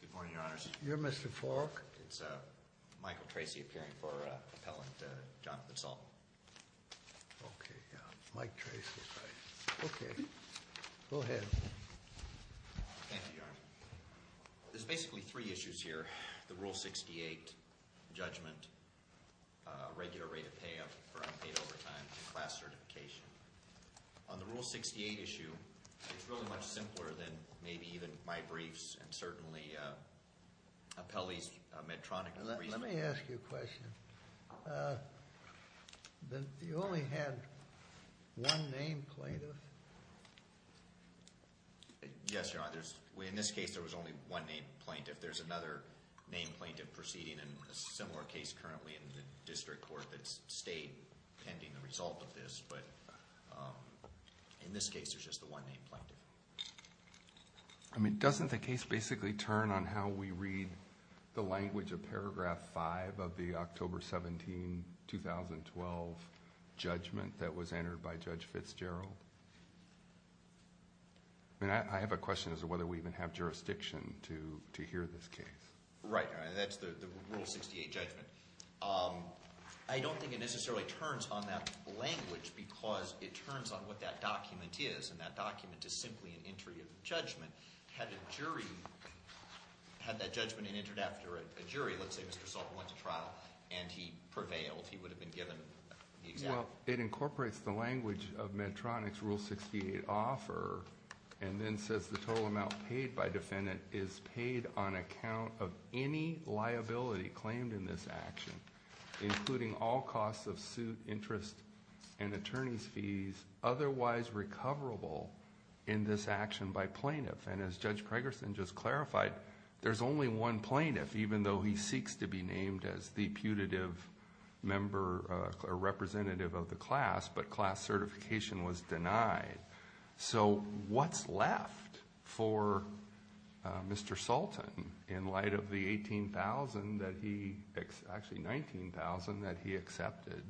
Good morning, Your Honors. You're Mr. Fork. It's Michael Tracy appearing for Appellant Jonathan Sultan. Okay, yeah, Mike Tracy. Right. Okay, go ahead. Thank you, Your Honor. There's basically three issues here. The Rule 68 judgment, regular rate of payoff for unpaid overtime, and class certification. On the Rule 68 issue, it's really much simpler than maybe even my briefs and certainly Appellee's Medtronic briefs. Let me ask you a question. You only had one name plaintiff? Yes, Your Honor. In this case, there was only one name plaintiff. There's another name plaintiff proceeding in a similar case currently in the district court that stayed pending the result of this. But in this case, there's just the one name plaintiff. I mean, doesn't the case basically turn on how we read the language of Paragraph 5 of the October 17, 2012 judgment that was entered by Judge Fitzgerald? I mean, I have a question as to whether we even have jurisdiction to hear this case. Right. That's the Rule 68 judgment. I don't think it necessarily turns on that language because it turns on what that document is. And that document is simply an entry of judgment. Had that judgment been entered after a jury, let's say Mr. Salter went to trial and he prevailed, he would have been given the exemption. Well, it incorporates the language of Medtronic's Rule 68 offer. And then says the total amount paid by defendant is paid on account of any liability claimed in this action, including all costs of suit, interest, and attorney's fees, otherwise recoverable in this action by plaintiff. And as Judge Pregerson just clarified, there's only one plaintiff, even though he seeks to be named as the putative representative of the class, but class certification was denied. So what's left for Mr. Sultan in light of the 18,000 that he, actually 19,000 that he accepted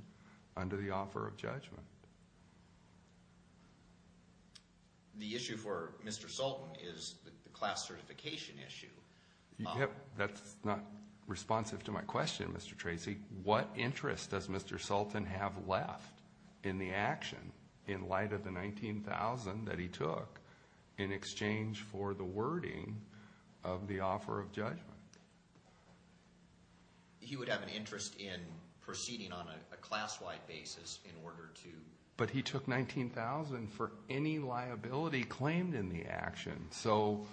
under the offer of judgment? The issue for Mr. Sultan is the class certification issue. That's not responsive to my question, Mr. Tracy. What interest does Mr. Sultan have left in the action in light of the 19,000 that he took in exchange for the wording of the offer of judgment? He would have an interest in proceeding on a class-wide basis in order to... But he took 19,000 for any liability claimed in the action. So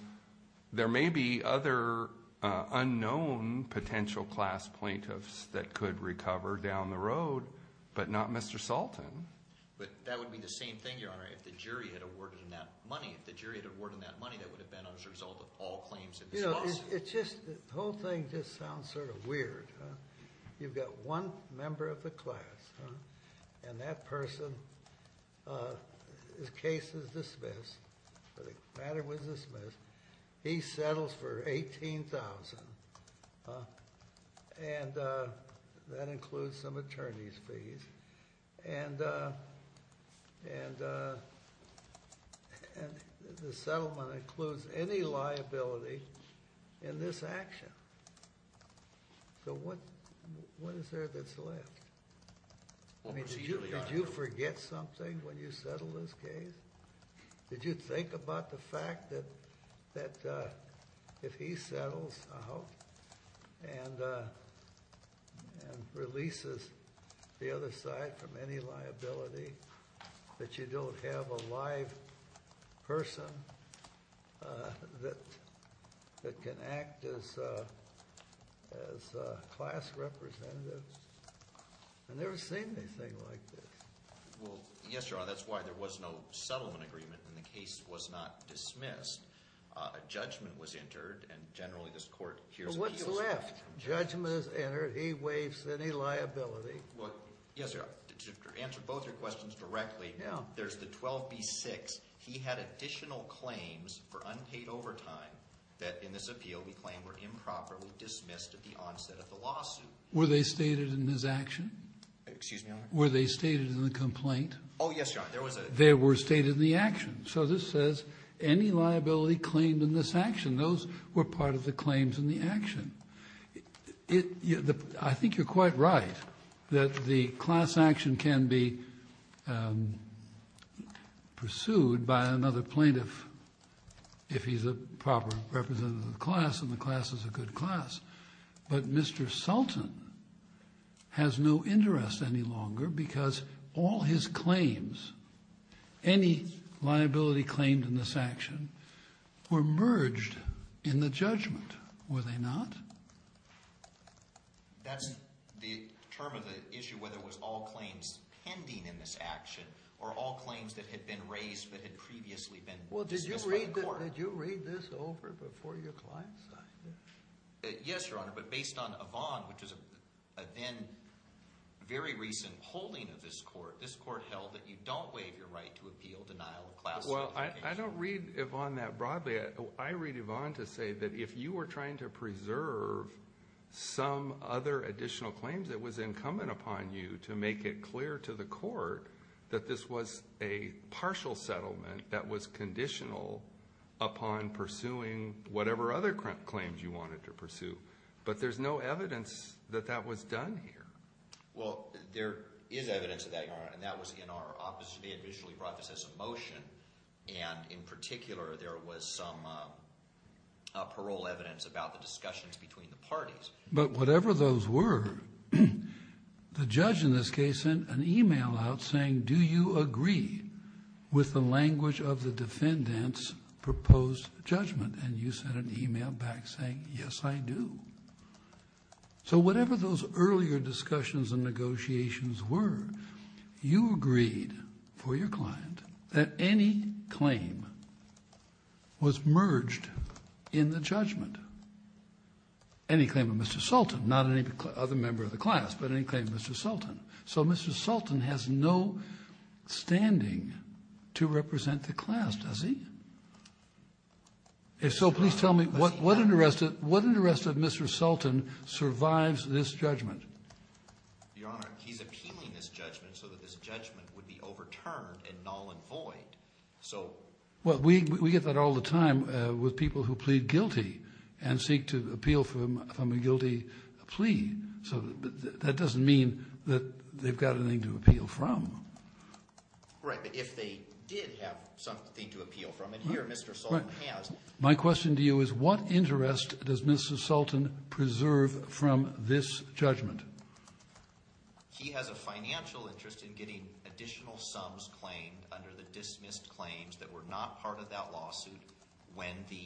there may be other unknown potential class plaintiffs that could recover down the road, but not Mr. Sultan. But that would be the same thing, Your Honor, if the jury had awarded him that money. If the jury had awarded him that money, that would have been as a result of all claims in this lawsuit. The whole thing just sounds sort of weird. You've got one member of the class, and that person, his case is dismissed. The matter was dismissed. He settles for 18,000, and that includes some attorney's fees. And the settlement includes any liability in this action. What is there that's left? Did you forget something when you settled this case? Did you think about the fact that if he settles out and releases the other side from any liability, that you don't have a live person that can act as class representative? I've never seen anything like this. Well, yes, Your Honor, that's why there was no settlement agreement, and the case was not dismissed. A judgment was entered, and generally this court hears... But what's left? Judgment is entered. He waives any liability. Well, yes, Your Honor, to answer both your questions directly, there's the 12B-6. He had additional claims for unpaid overtime that in this appeal we claim were improperly dismissed at the onset of the lawsuit. Were they stated in his action? Excuse me, Your Honor? Were they stated in the complaint? Oh, yes, Your Honor, there was a... They were stated in the action. So this says any liability claimed in this action. Those were part of the claims in the action. I think you're quite right that the class action can be pursued by another plaintiff if he's a proper representative of the class and the class is a good class. But Mr. Sultan has no interest any longer because all his claims, any liability claimed in this action, were merged in the judgment. Were they not? That's the term of the issue, whether it was all claims pending in this action or all claims that had been raised but had previously been dismissed by the court. Well, did you read this over before your client signed it? Yes, Your Honor, but based on Avon, which is a then very recent holding of this court, this court held that you don't waive your right to appeal denial of class... Well, I don't read Avon that broadly. I read Avon to say that if you were trying to preserve some other additional claims, it was incumbent upon you to make it clear to the court that this was a partial settlement that was conditional upon pursuing whatever other claims you wanted to pursue. But there's no evidence that that was done here. Well, there is evidence of that, Your Honor, and that was in our opposition. They had visually brought this as a motion, and in particular, there was some parole evidence about the discussions between the parties. But whatever those were, the judge in this case sent an email out saying, do you agree with the language of the defendant's proposed judgment? And you sent an email back saying, yes, I do. So whatever those earlier discussions and negotiations were, you agreed for your client that any claim was merged in the judgment, any claim of Mr. Sultan, not any other member of the class, but any claim of Mr. Sultan. So Mr. Sultan has no standing to represent the class, does he? If so, please tell me what interested Mr. Sultan survives this judgment? Your Honor, he's appealing this judgment so that this judgment would be overturned and null and void. So we get that all the time with people who plead guilty and seek to appeal from a guilty plea. So that doesn't mean that they've got anything to appeal from. Right. But if they did have something to appeal from, and here Mr. Sultan has. My question to you is what interest does Mr. Sultan preserve from this judgment? He has a financial interest in getting additional sums claimed under the dismissed claims that were not part of that lawsuit when the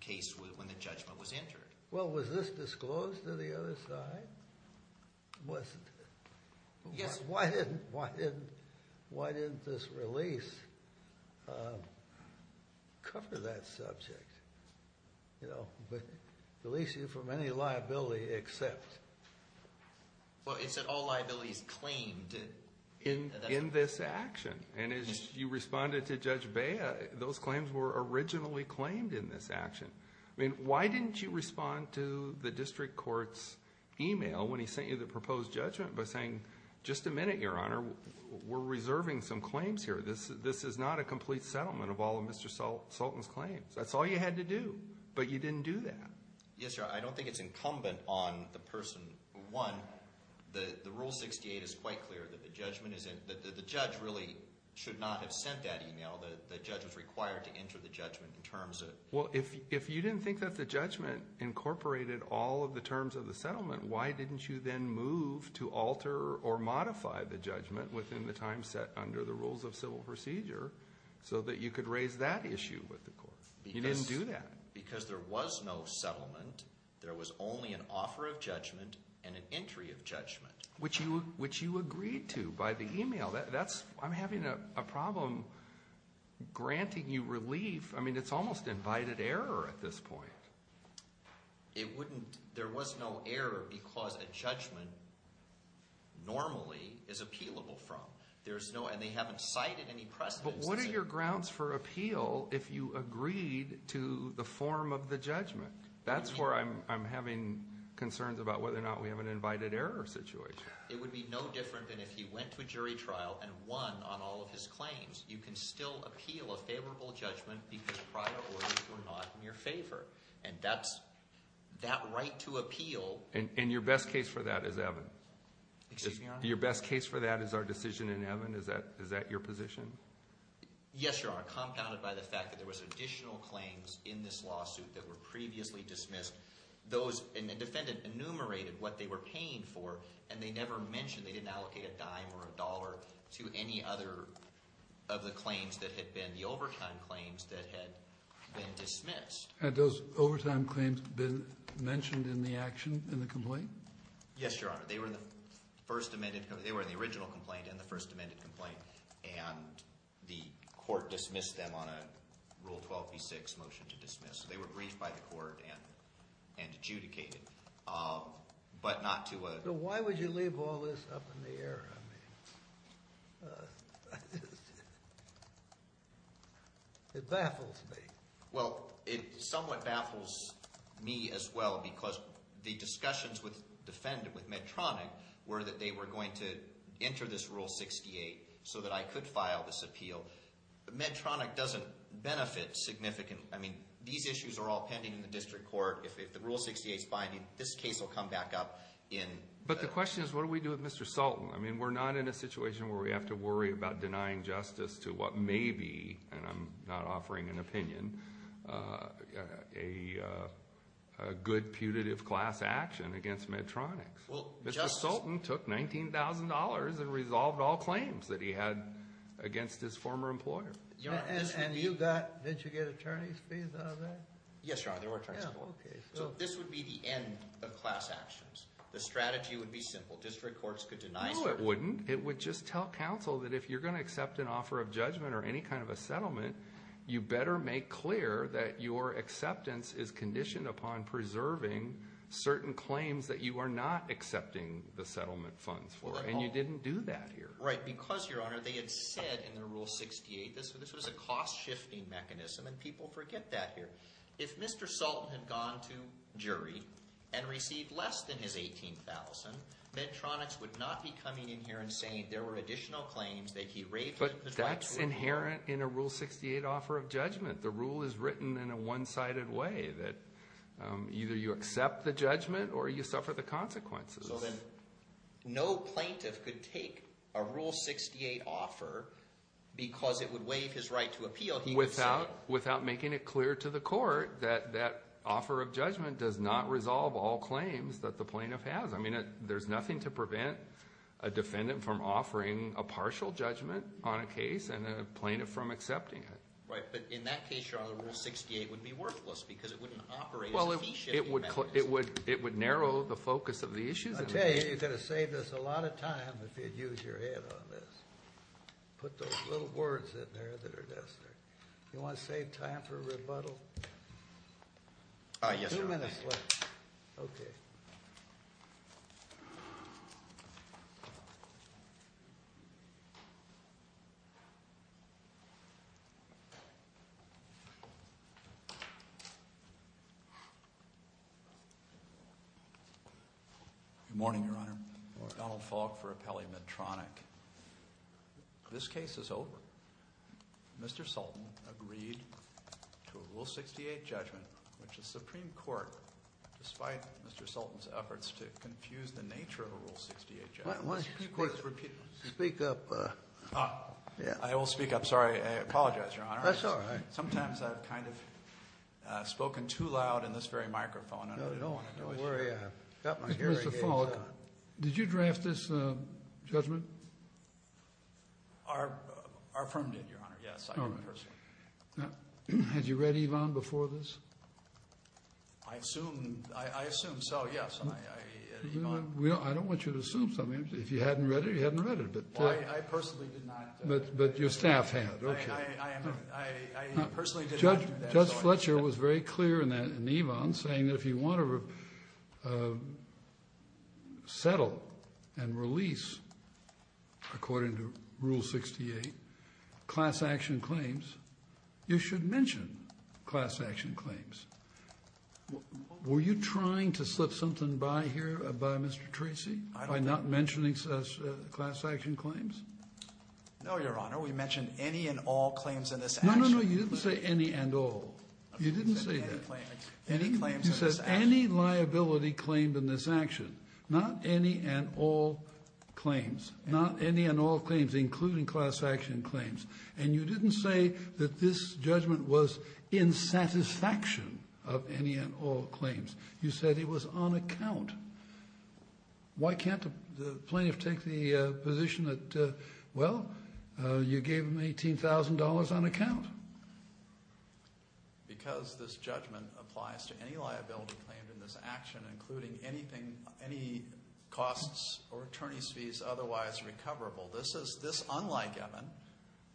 case was – when the judgment was entered. Well, was this disclosed to the other side? It wasn't. Yes. Because why didn't – why didn't this release cover that subject? You know, release you from any liability except – Well, it said all liabilities claimed. In this action. And as you responded to Judge Bea, those claims were originally claimed in this action. I mean, why didn't you respond to the district court's email when he sent you the proposed judgment by saying, just a minute, Your Honor. We're reserving some claims here. This is not a complete settlement of all of Mr. Sultan's claims. That's all you had to do. But you didn't do that. Yes, Your Honor. I don't think it's incumbent on the person who won. The Rule 68 is quite clear that the judgment is – that the judge really should not have sent that email. The judge was required to enter the judgment in terms of – Well, if you didn't think that the judgment incorporated all of the terms of the settlement, why didn't you then move to alter or modify the judgment within the time set under the Rules of Civil Procedure so that you could raise that issue with the court? You didn't do that. Because there was no settlement. There was only an offer of judgment and an entry of judgment. Which you agreed to by the email. That's – I'm having a problem granting you relief. I mean, it's almost invited error at this point. It wouldn't – there was no error because a judgment normally is appealable from. There's no – and they haven't cited any precedents. But what are your grounds for appeal if you agreed to the form of the judgment? That's where I'm having concerns about whether or not we have an invited error situation. It would be no different than if he went to a jury trial and won on all of his claims. You can still appeal a favorable judgment because prior orders were not in your favor. And that's – that right to appeal. And your best case for that is Evan? Excuse me, Your Honor? Your best case for that is our decision in Evan? Is that your position? Yes, Your Honor, compounded by the fact that there was additional claims in this lawsuit that were previously dismissed. And the defendant enumerated what they were paying for, and they never mentioned – they didn't allocate a dime or a dollar to any other of the claims that had been – the overtime claims that had been dismissed. Had those overtime claims been mentioned in the action in the complaint? Yes, Your Honor. They were in the first amended – they were in the original complaint and the first amended complaint. And the court dismissed them on a Rule 12b-6 motion to dismiss. They were briefed by the court and adjudicated, but not to a – So why would you leave all this up in the air? I mean, it baffles me. Well, it somewhat baffles me as well because the discussions with the defendant, with Medtronic, were that they were going to enter this Rule 68 so that I could file this appeal. Medtronic doesn't benefit significantly. I mean, these issues are all pending in the district court. If the Rule 68 is binding, this case will come back up in – But the question is what do we do with Mr. Sultan? I mean, we're not in a situation where we have to worry about denying justice to what may be – and I'm not offering an opinion – a good putative class action against Medtronic. Well, Justice – Mr. Sultan took $19,000 and resolved all claims that he had against his former employer. And you got – did you get attorney's fees out of that? Yes, Your Honor. There were attorney's fees. So this would be the end of class actions. The strategy would be simple. District courts could deny – No, it wouldn't. It would just tell counsel that if you're going to accept an offer of judgment or any kind of a settlement, you better make clear that your acceptance is conditioned upon preserving certain claims that you are not accepting the settlement funds for, and you didn't do that here. Right, because, Your Honor, they had said in their Rule 68, this was a cost-shifting mechanism, and people forget that here. If Mr. Sultan had gone to jury and received less than his $18,000, Medtronics would not be coming in here and saying there were additional claims that he raised – But that's inherent in a Rule 68 offer of judgment. The rule is written in a one-sided way that either you accept the judgment or you suffer the consequences. So then no plaintiff could take a Rule 68 offer because it would waive his right to appeal. He would say – Without making it clear to the court that that offer of judgment does not resolve all claims that the plaintiff has. I mean, there's nothing to prevent a defendant from offering a partial judgment on a case and a plaintiff from accepting it. Right, but in that case, Your Honor, the Rule 68 would be worthless because it wouldn't operate as a fee-shifting mechanism. It would narrow the focus of the issue. I tell you, you're going to save us a lot of time if you'd use your head on this. Put those little words in there that are necessary. You want to save time for rebuttal? Yes, Your Honor. Two minutes left. Okay. Good morning, Your Honor. Good morning. Donald Falk for Appellee Medtronic. This case is over. Mr. Sultan agreed to a Rule 68 judgment, which the Supreme Court, despite Mr. Sultan's efforts to confuse the nature of a Rule 68 judgment. Why don't you speak up? I will speak up. Sorry, I apologize, Your Honor. That's all right. Sometimes I've kind of spoken too loud in this very microphone. Don't worry. Mr. Falk, did you draft this judgment? Our firm did, Your Honor, yes. All right. Had you read Evon before this? I assume so, yes. I don't want you to assume something. If you hadn't read it, you hadn't read it. I personally did not. But your staff had. I personally did not. Judge Fletcher was very clear in Evon saying that if you want to settle and release, according to Rule 68, class action claims, you should mention class action claims. Were you trying to slip something by here by Mr. Treacy by not mentioning class action claims? No, Your Honor. We mentioned any and all claims in this action. No, no, no. You didn't say any and all. You didn't say that. Any claims in this action. You said any liability claimed in this action, not any and all claims, not any and all claims, including class action claims. And you didn't say that this judgment was in satisfaction of any and all claims. You said it was on account. Why can't the plaintiff take the position that, well, you gave them $18,000 on account? Because this judgment applies to any liability claimed in this action, including anything, any costs or attorney's fees otherwise recoverable. This is unlike Evon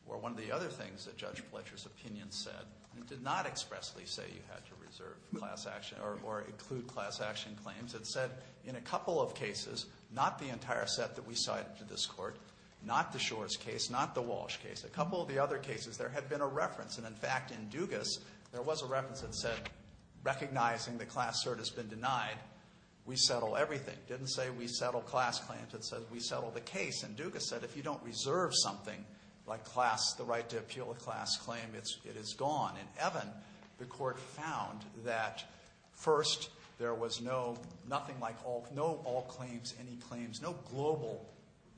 or one of the other things that Judge Fletcher's opinion said. It did not expressly say you had to reserve class action or include class action claims. It said in a couple of cases, not the entire set that we cited to this Court, not the Shores case, not the Walsh case. A couple of the other cases, there had been a reference. And, in fact, in Dugas, there was a reference that said, recognizing the class cert has been denied, we settle everything. It didn't say we settle class claims. It said we settle the case. And Dugas said if you don't reserve something like class, the right to appeal a class claim, it is gone. In Evon, the Court found that, first, there was no, nothing like all, no all claims, any claims, no global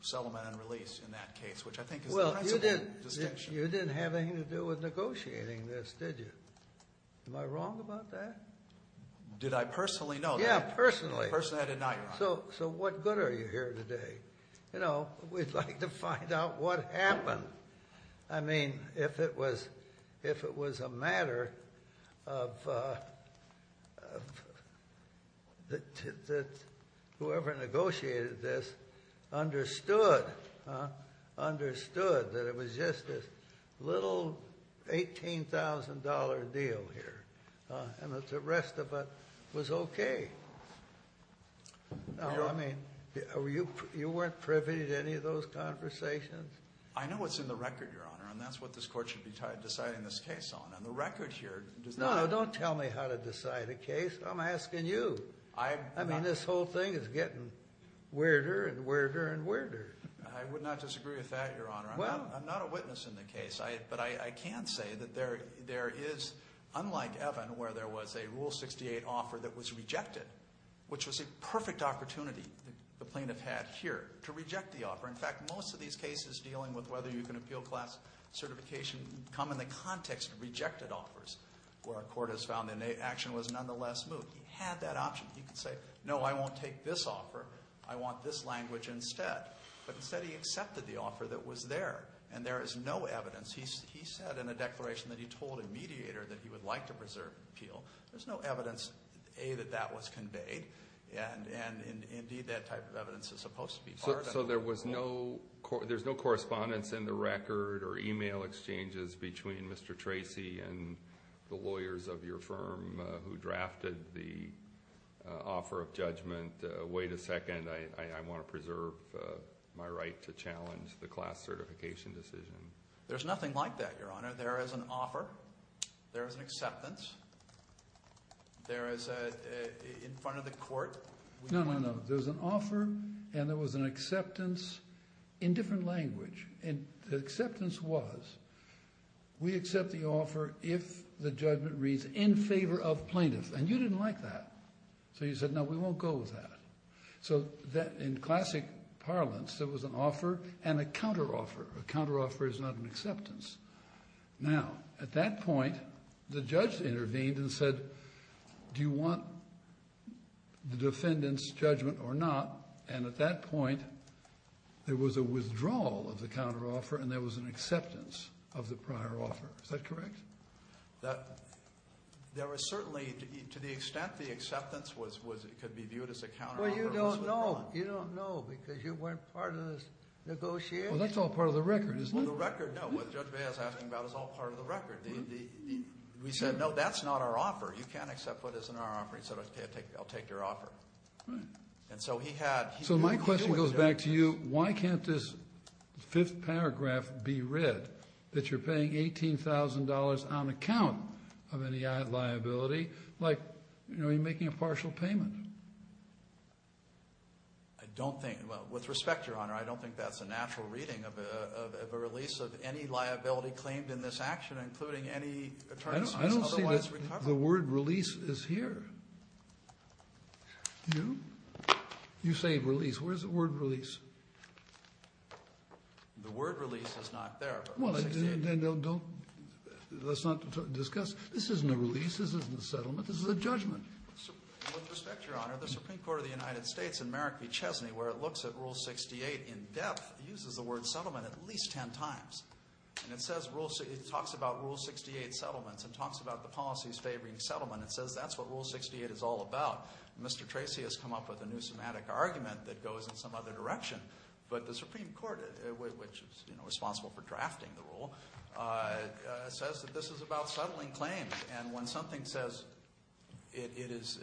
settlement and release in that case, which I think is a sensible distinction. You didn't have anything to do with negotiating this, did you? Am I wrong about that? Did I personally know that? Yeah, personally. Personally, I did not, Your Honor. So what good are you here today? We'd like to find out what happened. I mean, if it was a matter of whoever negotiated this understood. Understood that it was just a little $18,000 deal here. And the rest of it was okay. No, I mean, you weren't privy to any of those conversations? I know what's in the record, Your Honor. And that's what this Court should be deciding this case on. And the record here does not... No, no, don't tell me how to decide a case. I'm asking you. I... I mean, this whole thing is getting weirder and weirder and weirder. I would not disagree with that, Your Honor. Well... I'm not a witness in the case. But I can say that there is, unlike Evan, where there was a Rule 68 offer that was rejected, which was a perfect opportunity the plaintiff had here to reject the offer. In fact, most of these cases dealing with whether you can appeal class certification come in the context of rejected offers, where a court has found the action was nonetheless moved. He had that option. He could say, no, I won't take this offer. I want this language instead. But instead, he accepted the offer that was there. And there is no evidence. He said in a declaration that he told a mediator that he would like to preserve appeal. There's no evidence, A, that that was conveyed. And, indeed, that type of evidence is supposed to be part of... So there was no correspondence in the record or e-mail exchanges between Mr. Tracy and the lawyers of your firm who drafted the offer of judgment, wait a second, I want to preserve my right to challenge the class certification decision. There's nothing like that, Your Honor. There is an offer. There is an acceptance. There is, in front of the court... No, no, no. There's an offer and there was an acceptance in different language. And the acceptance was, we accept the offer if the judgment reads in favor of plaintiffs. And you didn't like that. So you said, no, we won't go with that. So in classic parlance, there was an offer and a counteroffer. A counteroffer is not an acceptance. Now, at that point, the judge intervened and said, do you want the defendant's judgment or not? And at that point, there was a withdrawal of the counteroffer and there was an acceptance of the prior offer. Is that correct? There was certainly, to the extent the acceptance could be viewed as a counteroffer. Well, you don't know. You don't know because you weren't part of this negotiation. Well, that's all part of the record, isn't it? Well, the record, no. What Judge Baez is asking about is all part of the record. We said, no, that's not our offer. You can't accept what isn't our offer. He said, okay, I'll take your offer. And so he had... So my question goes back to you. Why can't this fifth paragraph be read that you're paying $18,000 on account of any liability? Like, you know, you're making a partial payment. I don't think. Well, with respect, Your Honor, I don't think that's a natural reading of a release of any liability claimed in this action, including any attorneys otherwise recovered. I don't see the word release is here. Do you? You say release. Where's the word release? The word release is not there. Well, then don't, let's not discuss. This isn't a release. This isn't a settlement. This is a judgment. With respect, Your Honor, the Supreme Court of the United States in Merrick v. Chesney, where it looks at Rule 68 in depth, uses the word settlement at least ten times. And it says, it talks about Rule 68 settlements and talks about the policies favoring settlement. It says that's what Rule 68 is all about. Mr. Tracy has come up with a new somatic argument that goes in some other direction. But the Supreme Court, which is, you know, responsible for drafting the rule, says that this is about settling claims. And when something says it is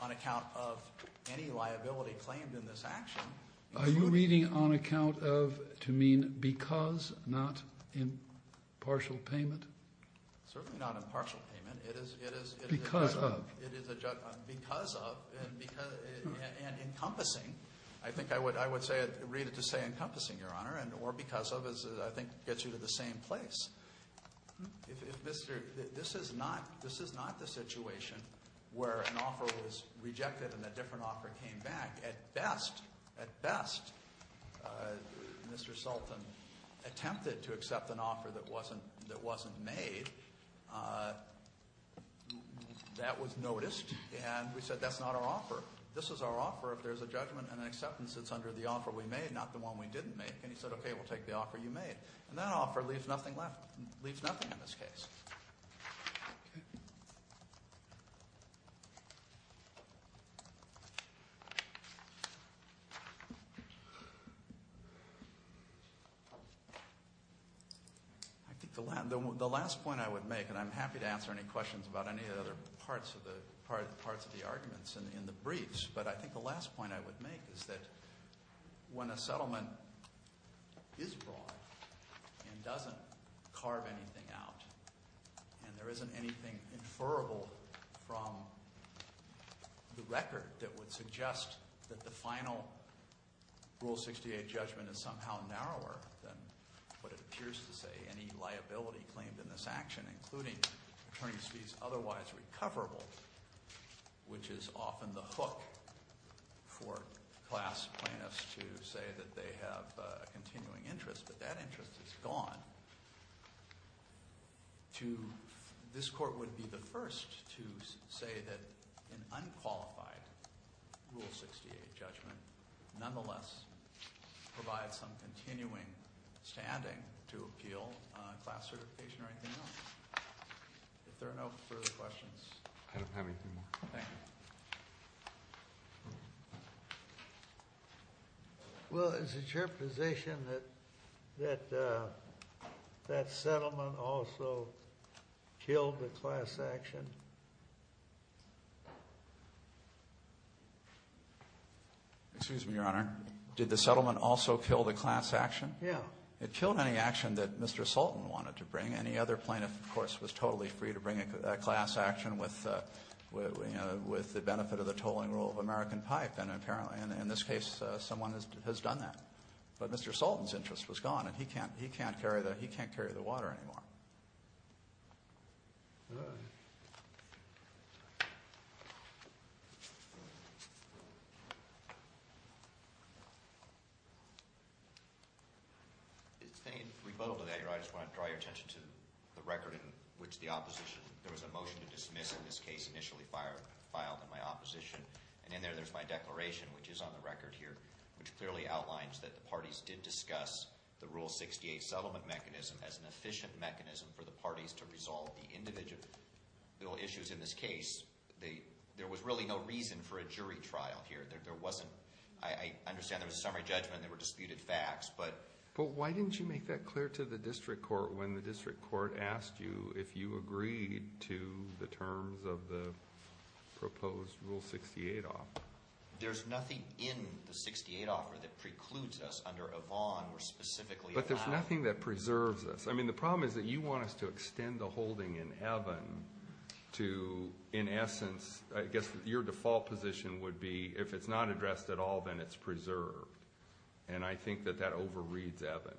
on account of any liability claimed in this action. Are you reading on account of to mean because, not in partial payment? Certainly not in partial payment. It is. Because of. Because of. And encompassing. I think I would say, read it to say encompassing, Your Honor. Or because of, as I think gets you to the same place. This is not the situation where an offer was rejected and a different offer came back. At best, Mr. Sultan attempted to accept an offer that wasn't made. That was noticed. And we said, that's not our offer. This is our offer if there's a judgment and an acceptance that's under the offer we made, not the one we didn't make. And he said, okay, we'll take the offer you made. And that offer leaves nothing left, leaves nothing in this case. Okay. I think the last point I would make, and I'm happy to answer any questions about any other parts of the arguments in the briefs. But I think the last point I would make is that when a settlement is broad and doesn't carve anything out, and there isn't anything inferrable from the record that would suggest that the final Rule 68 judgment is somehow narrower than what it appears to say any liability claimed in this action, including attorney's fees otherwise recoverable, which is often the hook for class plaintiffs to say that they have a continuing interest, but that interest is gone, this court would be the first to say that an unqualified Rule 68 judgment would nonetheless provide some continuing standing to appeal class certification or anything else. If there are no further questions. I don't have anything more. Thank you. Well, is it your position that that settlement also killed the class action? Excuse me, Your Honor. Did the settlement also kill the class action? Yeah. It killed any action that Mr. Sultan wanted to bring. Any other plaintiff, of course, was totally free to bring a class action with the benefit of the tolling rule of American Pipe. And apparently in this case someone has done that. But Mr. Sultan's interest was gone, and he can't carry the water anymore. If there's any rebuttal to that, Your Honor, I just want to draw your attention to the record in which the opposition – there was a motion to dismiss in this case initially filed in my opposition, and in there there's my declaration, which is on the record here, which clearly outlines that the parties did discuss the Rule 68 settlement mechanism as an efficient mechanism for the parties to resolve the individual issues in this case. There was really no reason for a jury trial here. There wasn't – I understand there was a summary judgment and there were disputed facts, but – But why didn't you make that clear to the district court when the district court asked you if you agreed to the terms of the proposed Rule 68 offer? There's nothing in the 68 offer that precludes us under a bond or specifically a bond. But there's nothing that preserves us. I mean, the problem is that you want us to extend the holding in Evan to, in essence, I guess your default position would be if it's not addressed at all, then it's preserved. And I think that that overreads Evan.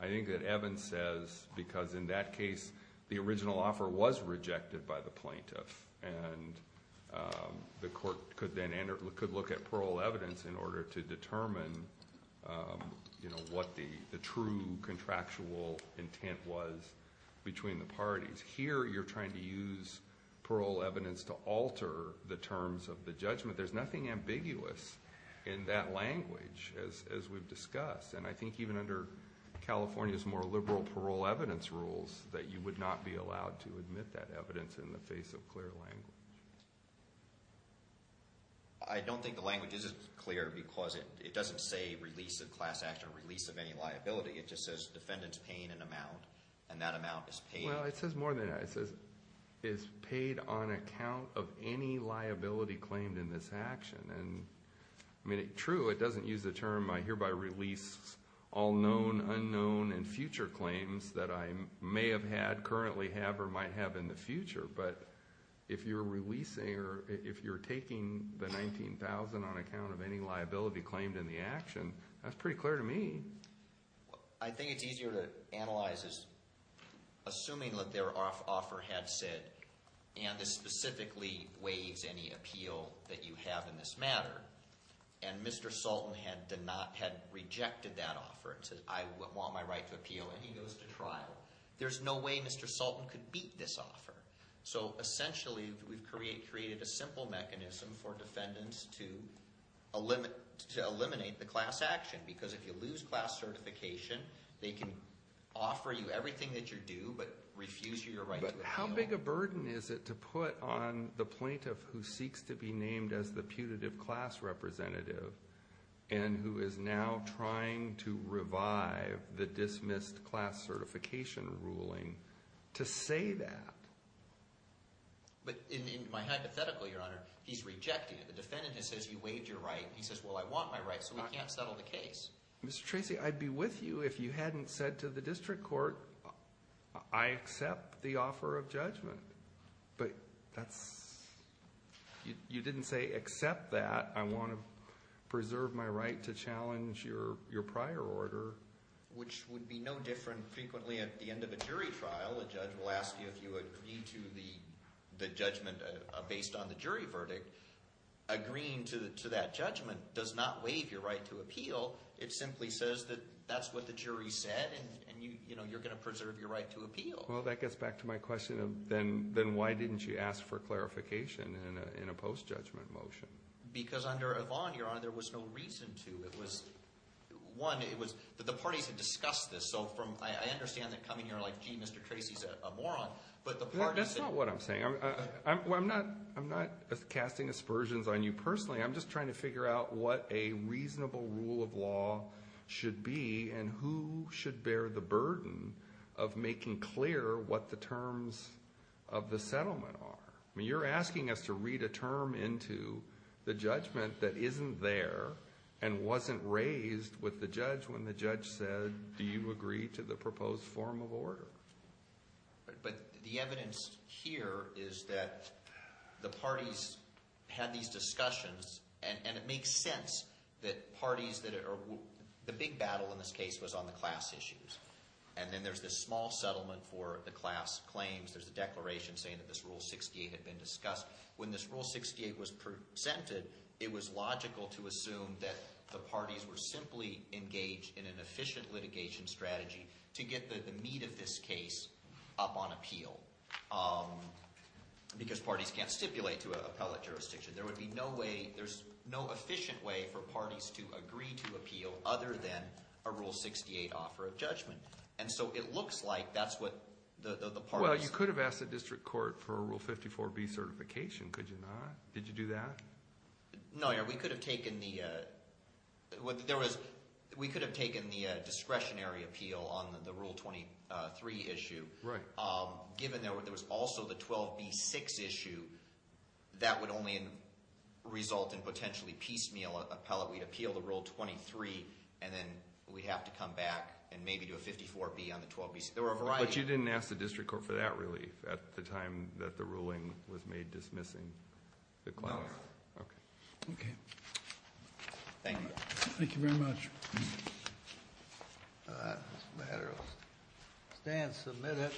I think that Evan says because in that case the original offer was rejected by the plaintiff and the court could look at parole evidence in order to determine what the true contractual intent was between the parties. Here you're trying to use parole evidence to alter the terms of the judgment. There's nothing ambiguous in that language as we've discussed. And I think even under California's more liberal parole evidence rules that you would not be allowed to admit that evidence in the face of clear language. I don't think the language isn't clear because it doesn't say release of class act or release of any liability. It just says defendant's paying an amount and that amount is paid. Well, it says more than that. It says is paid on account of any liability claimed in this action. And, I mean, true, it doesn't use the term I hereby release all known, unknown, and future claims that I may have had, currently have, or might have in the future. But if you're releasing or if you're taking the $19,000 on account of any liability claimed in the action, that's pretty clear to me. I think it's easier to analyze as assuming that their offer had said, and this specifically waives any appeal that you have in this matter, and Mr. Sultan had rejected that offer and said, I want my right to appeal, and he goes to trial. There's no way Mr. Sultan could beat this offer. So, essentially, we've created a simple mechanism for defendants to eliminate the class action because if you lose class certification, they can offer you everything that you do but refuse your right to appeal. But how big a burden is it to put on the plaintiff who seeks to be named as the putative class representative and who is now trying to revive the dismissed class certification ruling to say that? But in my hypothetical, Your Honor, he's rejecting it. The defendant just says you waived your right. He says, well, I want my right, so we can't settle the case. Mr. Tracy, I'd be with you if you hadn't said to the district court, I accept the offer of judgment. But that's – you didn't say accept that. I want to preserve my right to challenge your prior order. Which would be no different frequently at the end of a jury trial. A judge will ask you if you agree to the judgment based on the jury verdict. Agreeing to that judgment does not waive your right to appeal. It simply says that that's what the jury said and you're going to preserve your right to appeal. Well, that gets back to my question of then why didn't you ask for clarification in a post-judgment motion? Because under Yvonne, Your Honor, there was no reason to. It was – one, it was – the parties had discussed this. So from – I understand that coming here like, gee, Mr. Tracy's a moron. But the parties – That's not what I'm saying. I'm not casting aspersions on you personally. I'm just trying to figure out what a reasonable rule of law should be and who should bear the burden of making clear what the terms of the settlement are. I mean, you're asking us to read a term into the judgment that isn't there and wasn't raised with the judge when the judge said, do you agree to the proposed form of order? But the evidence here is that the parties had these discussions and it makes sense that parties that are – the big battle in this case was on the class issues. And then there's this small settlement for the class claims. There's a declaration saying that this Rule 68 had been discussed. When this Rule 68 was presented, it was logical to assume that the parties were simply engaged in an efficient litigation strategy to get the meat of this case up on appeal because parties can't stipulate to an appellate jurisdiction. There would be no way – there's no efficient way for parties to agree to appeal other than a Rule 68 offer of judgment. And so it looks like that's what the parties – Did you do that? No, we could have taken the – there was – we could have taken the discretionary appeal on the Rule 23 issue. Given there was also the 12B6 issue, that would only result in potentially piecemeal appellate. We'd appeal the Rule 23 and then we'd have to come back and maybe do a 54B on the 12B6. But you didn't ask the district court for that relief at the time that the ruling was made dismissing the class? No. Okay. Okay. Thank you. Thank you very much. This matter will stay and submit it.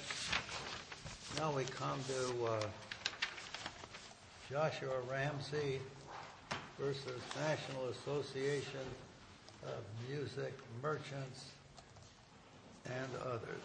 Now we come to Joshua Ramsey v. National Association of Music Merchants and others.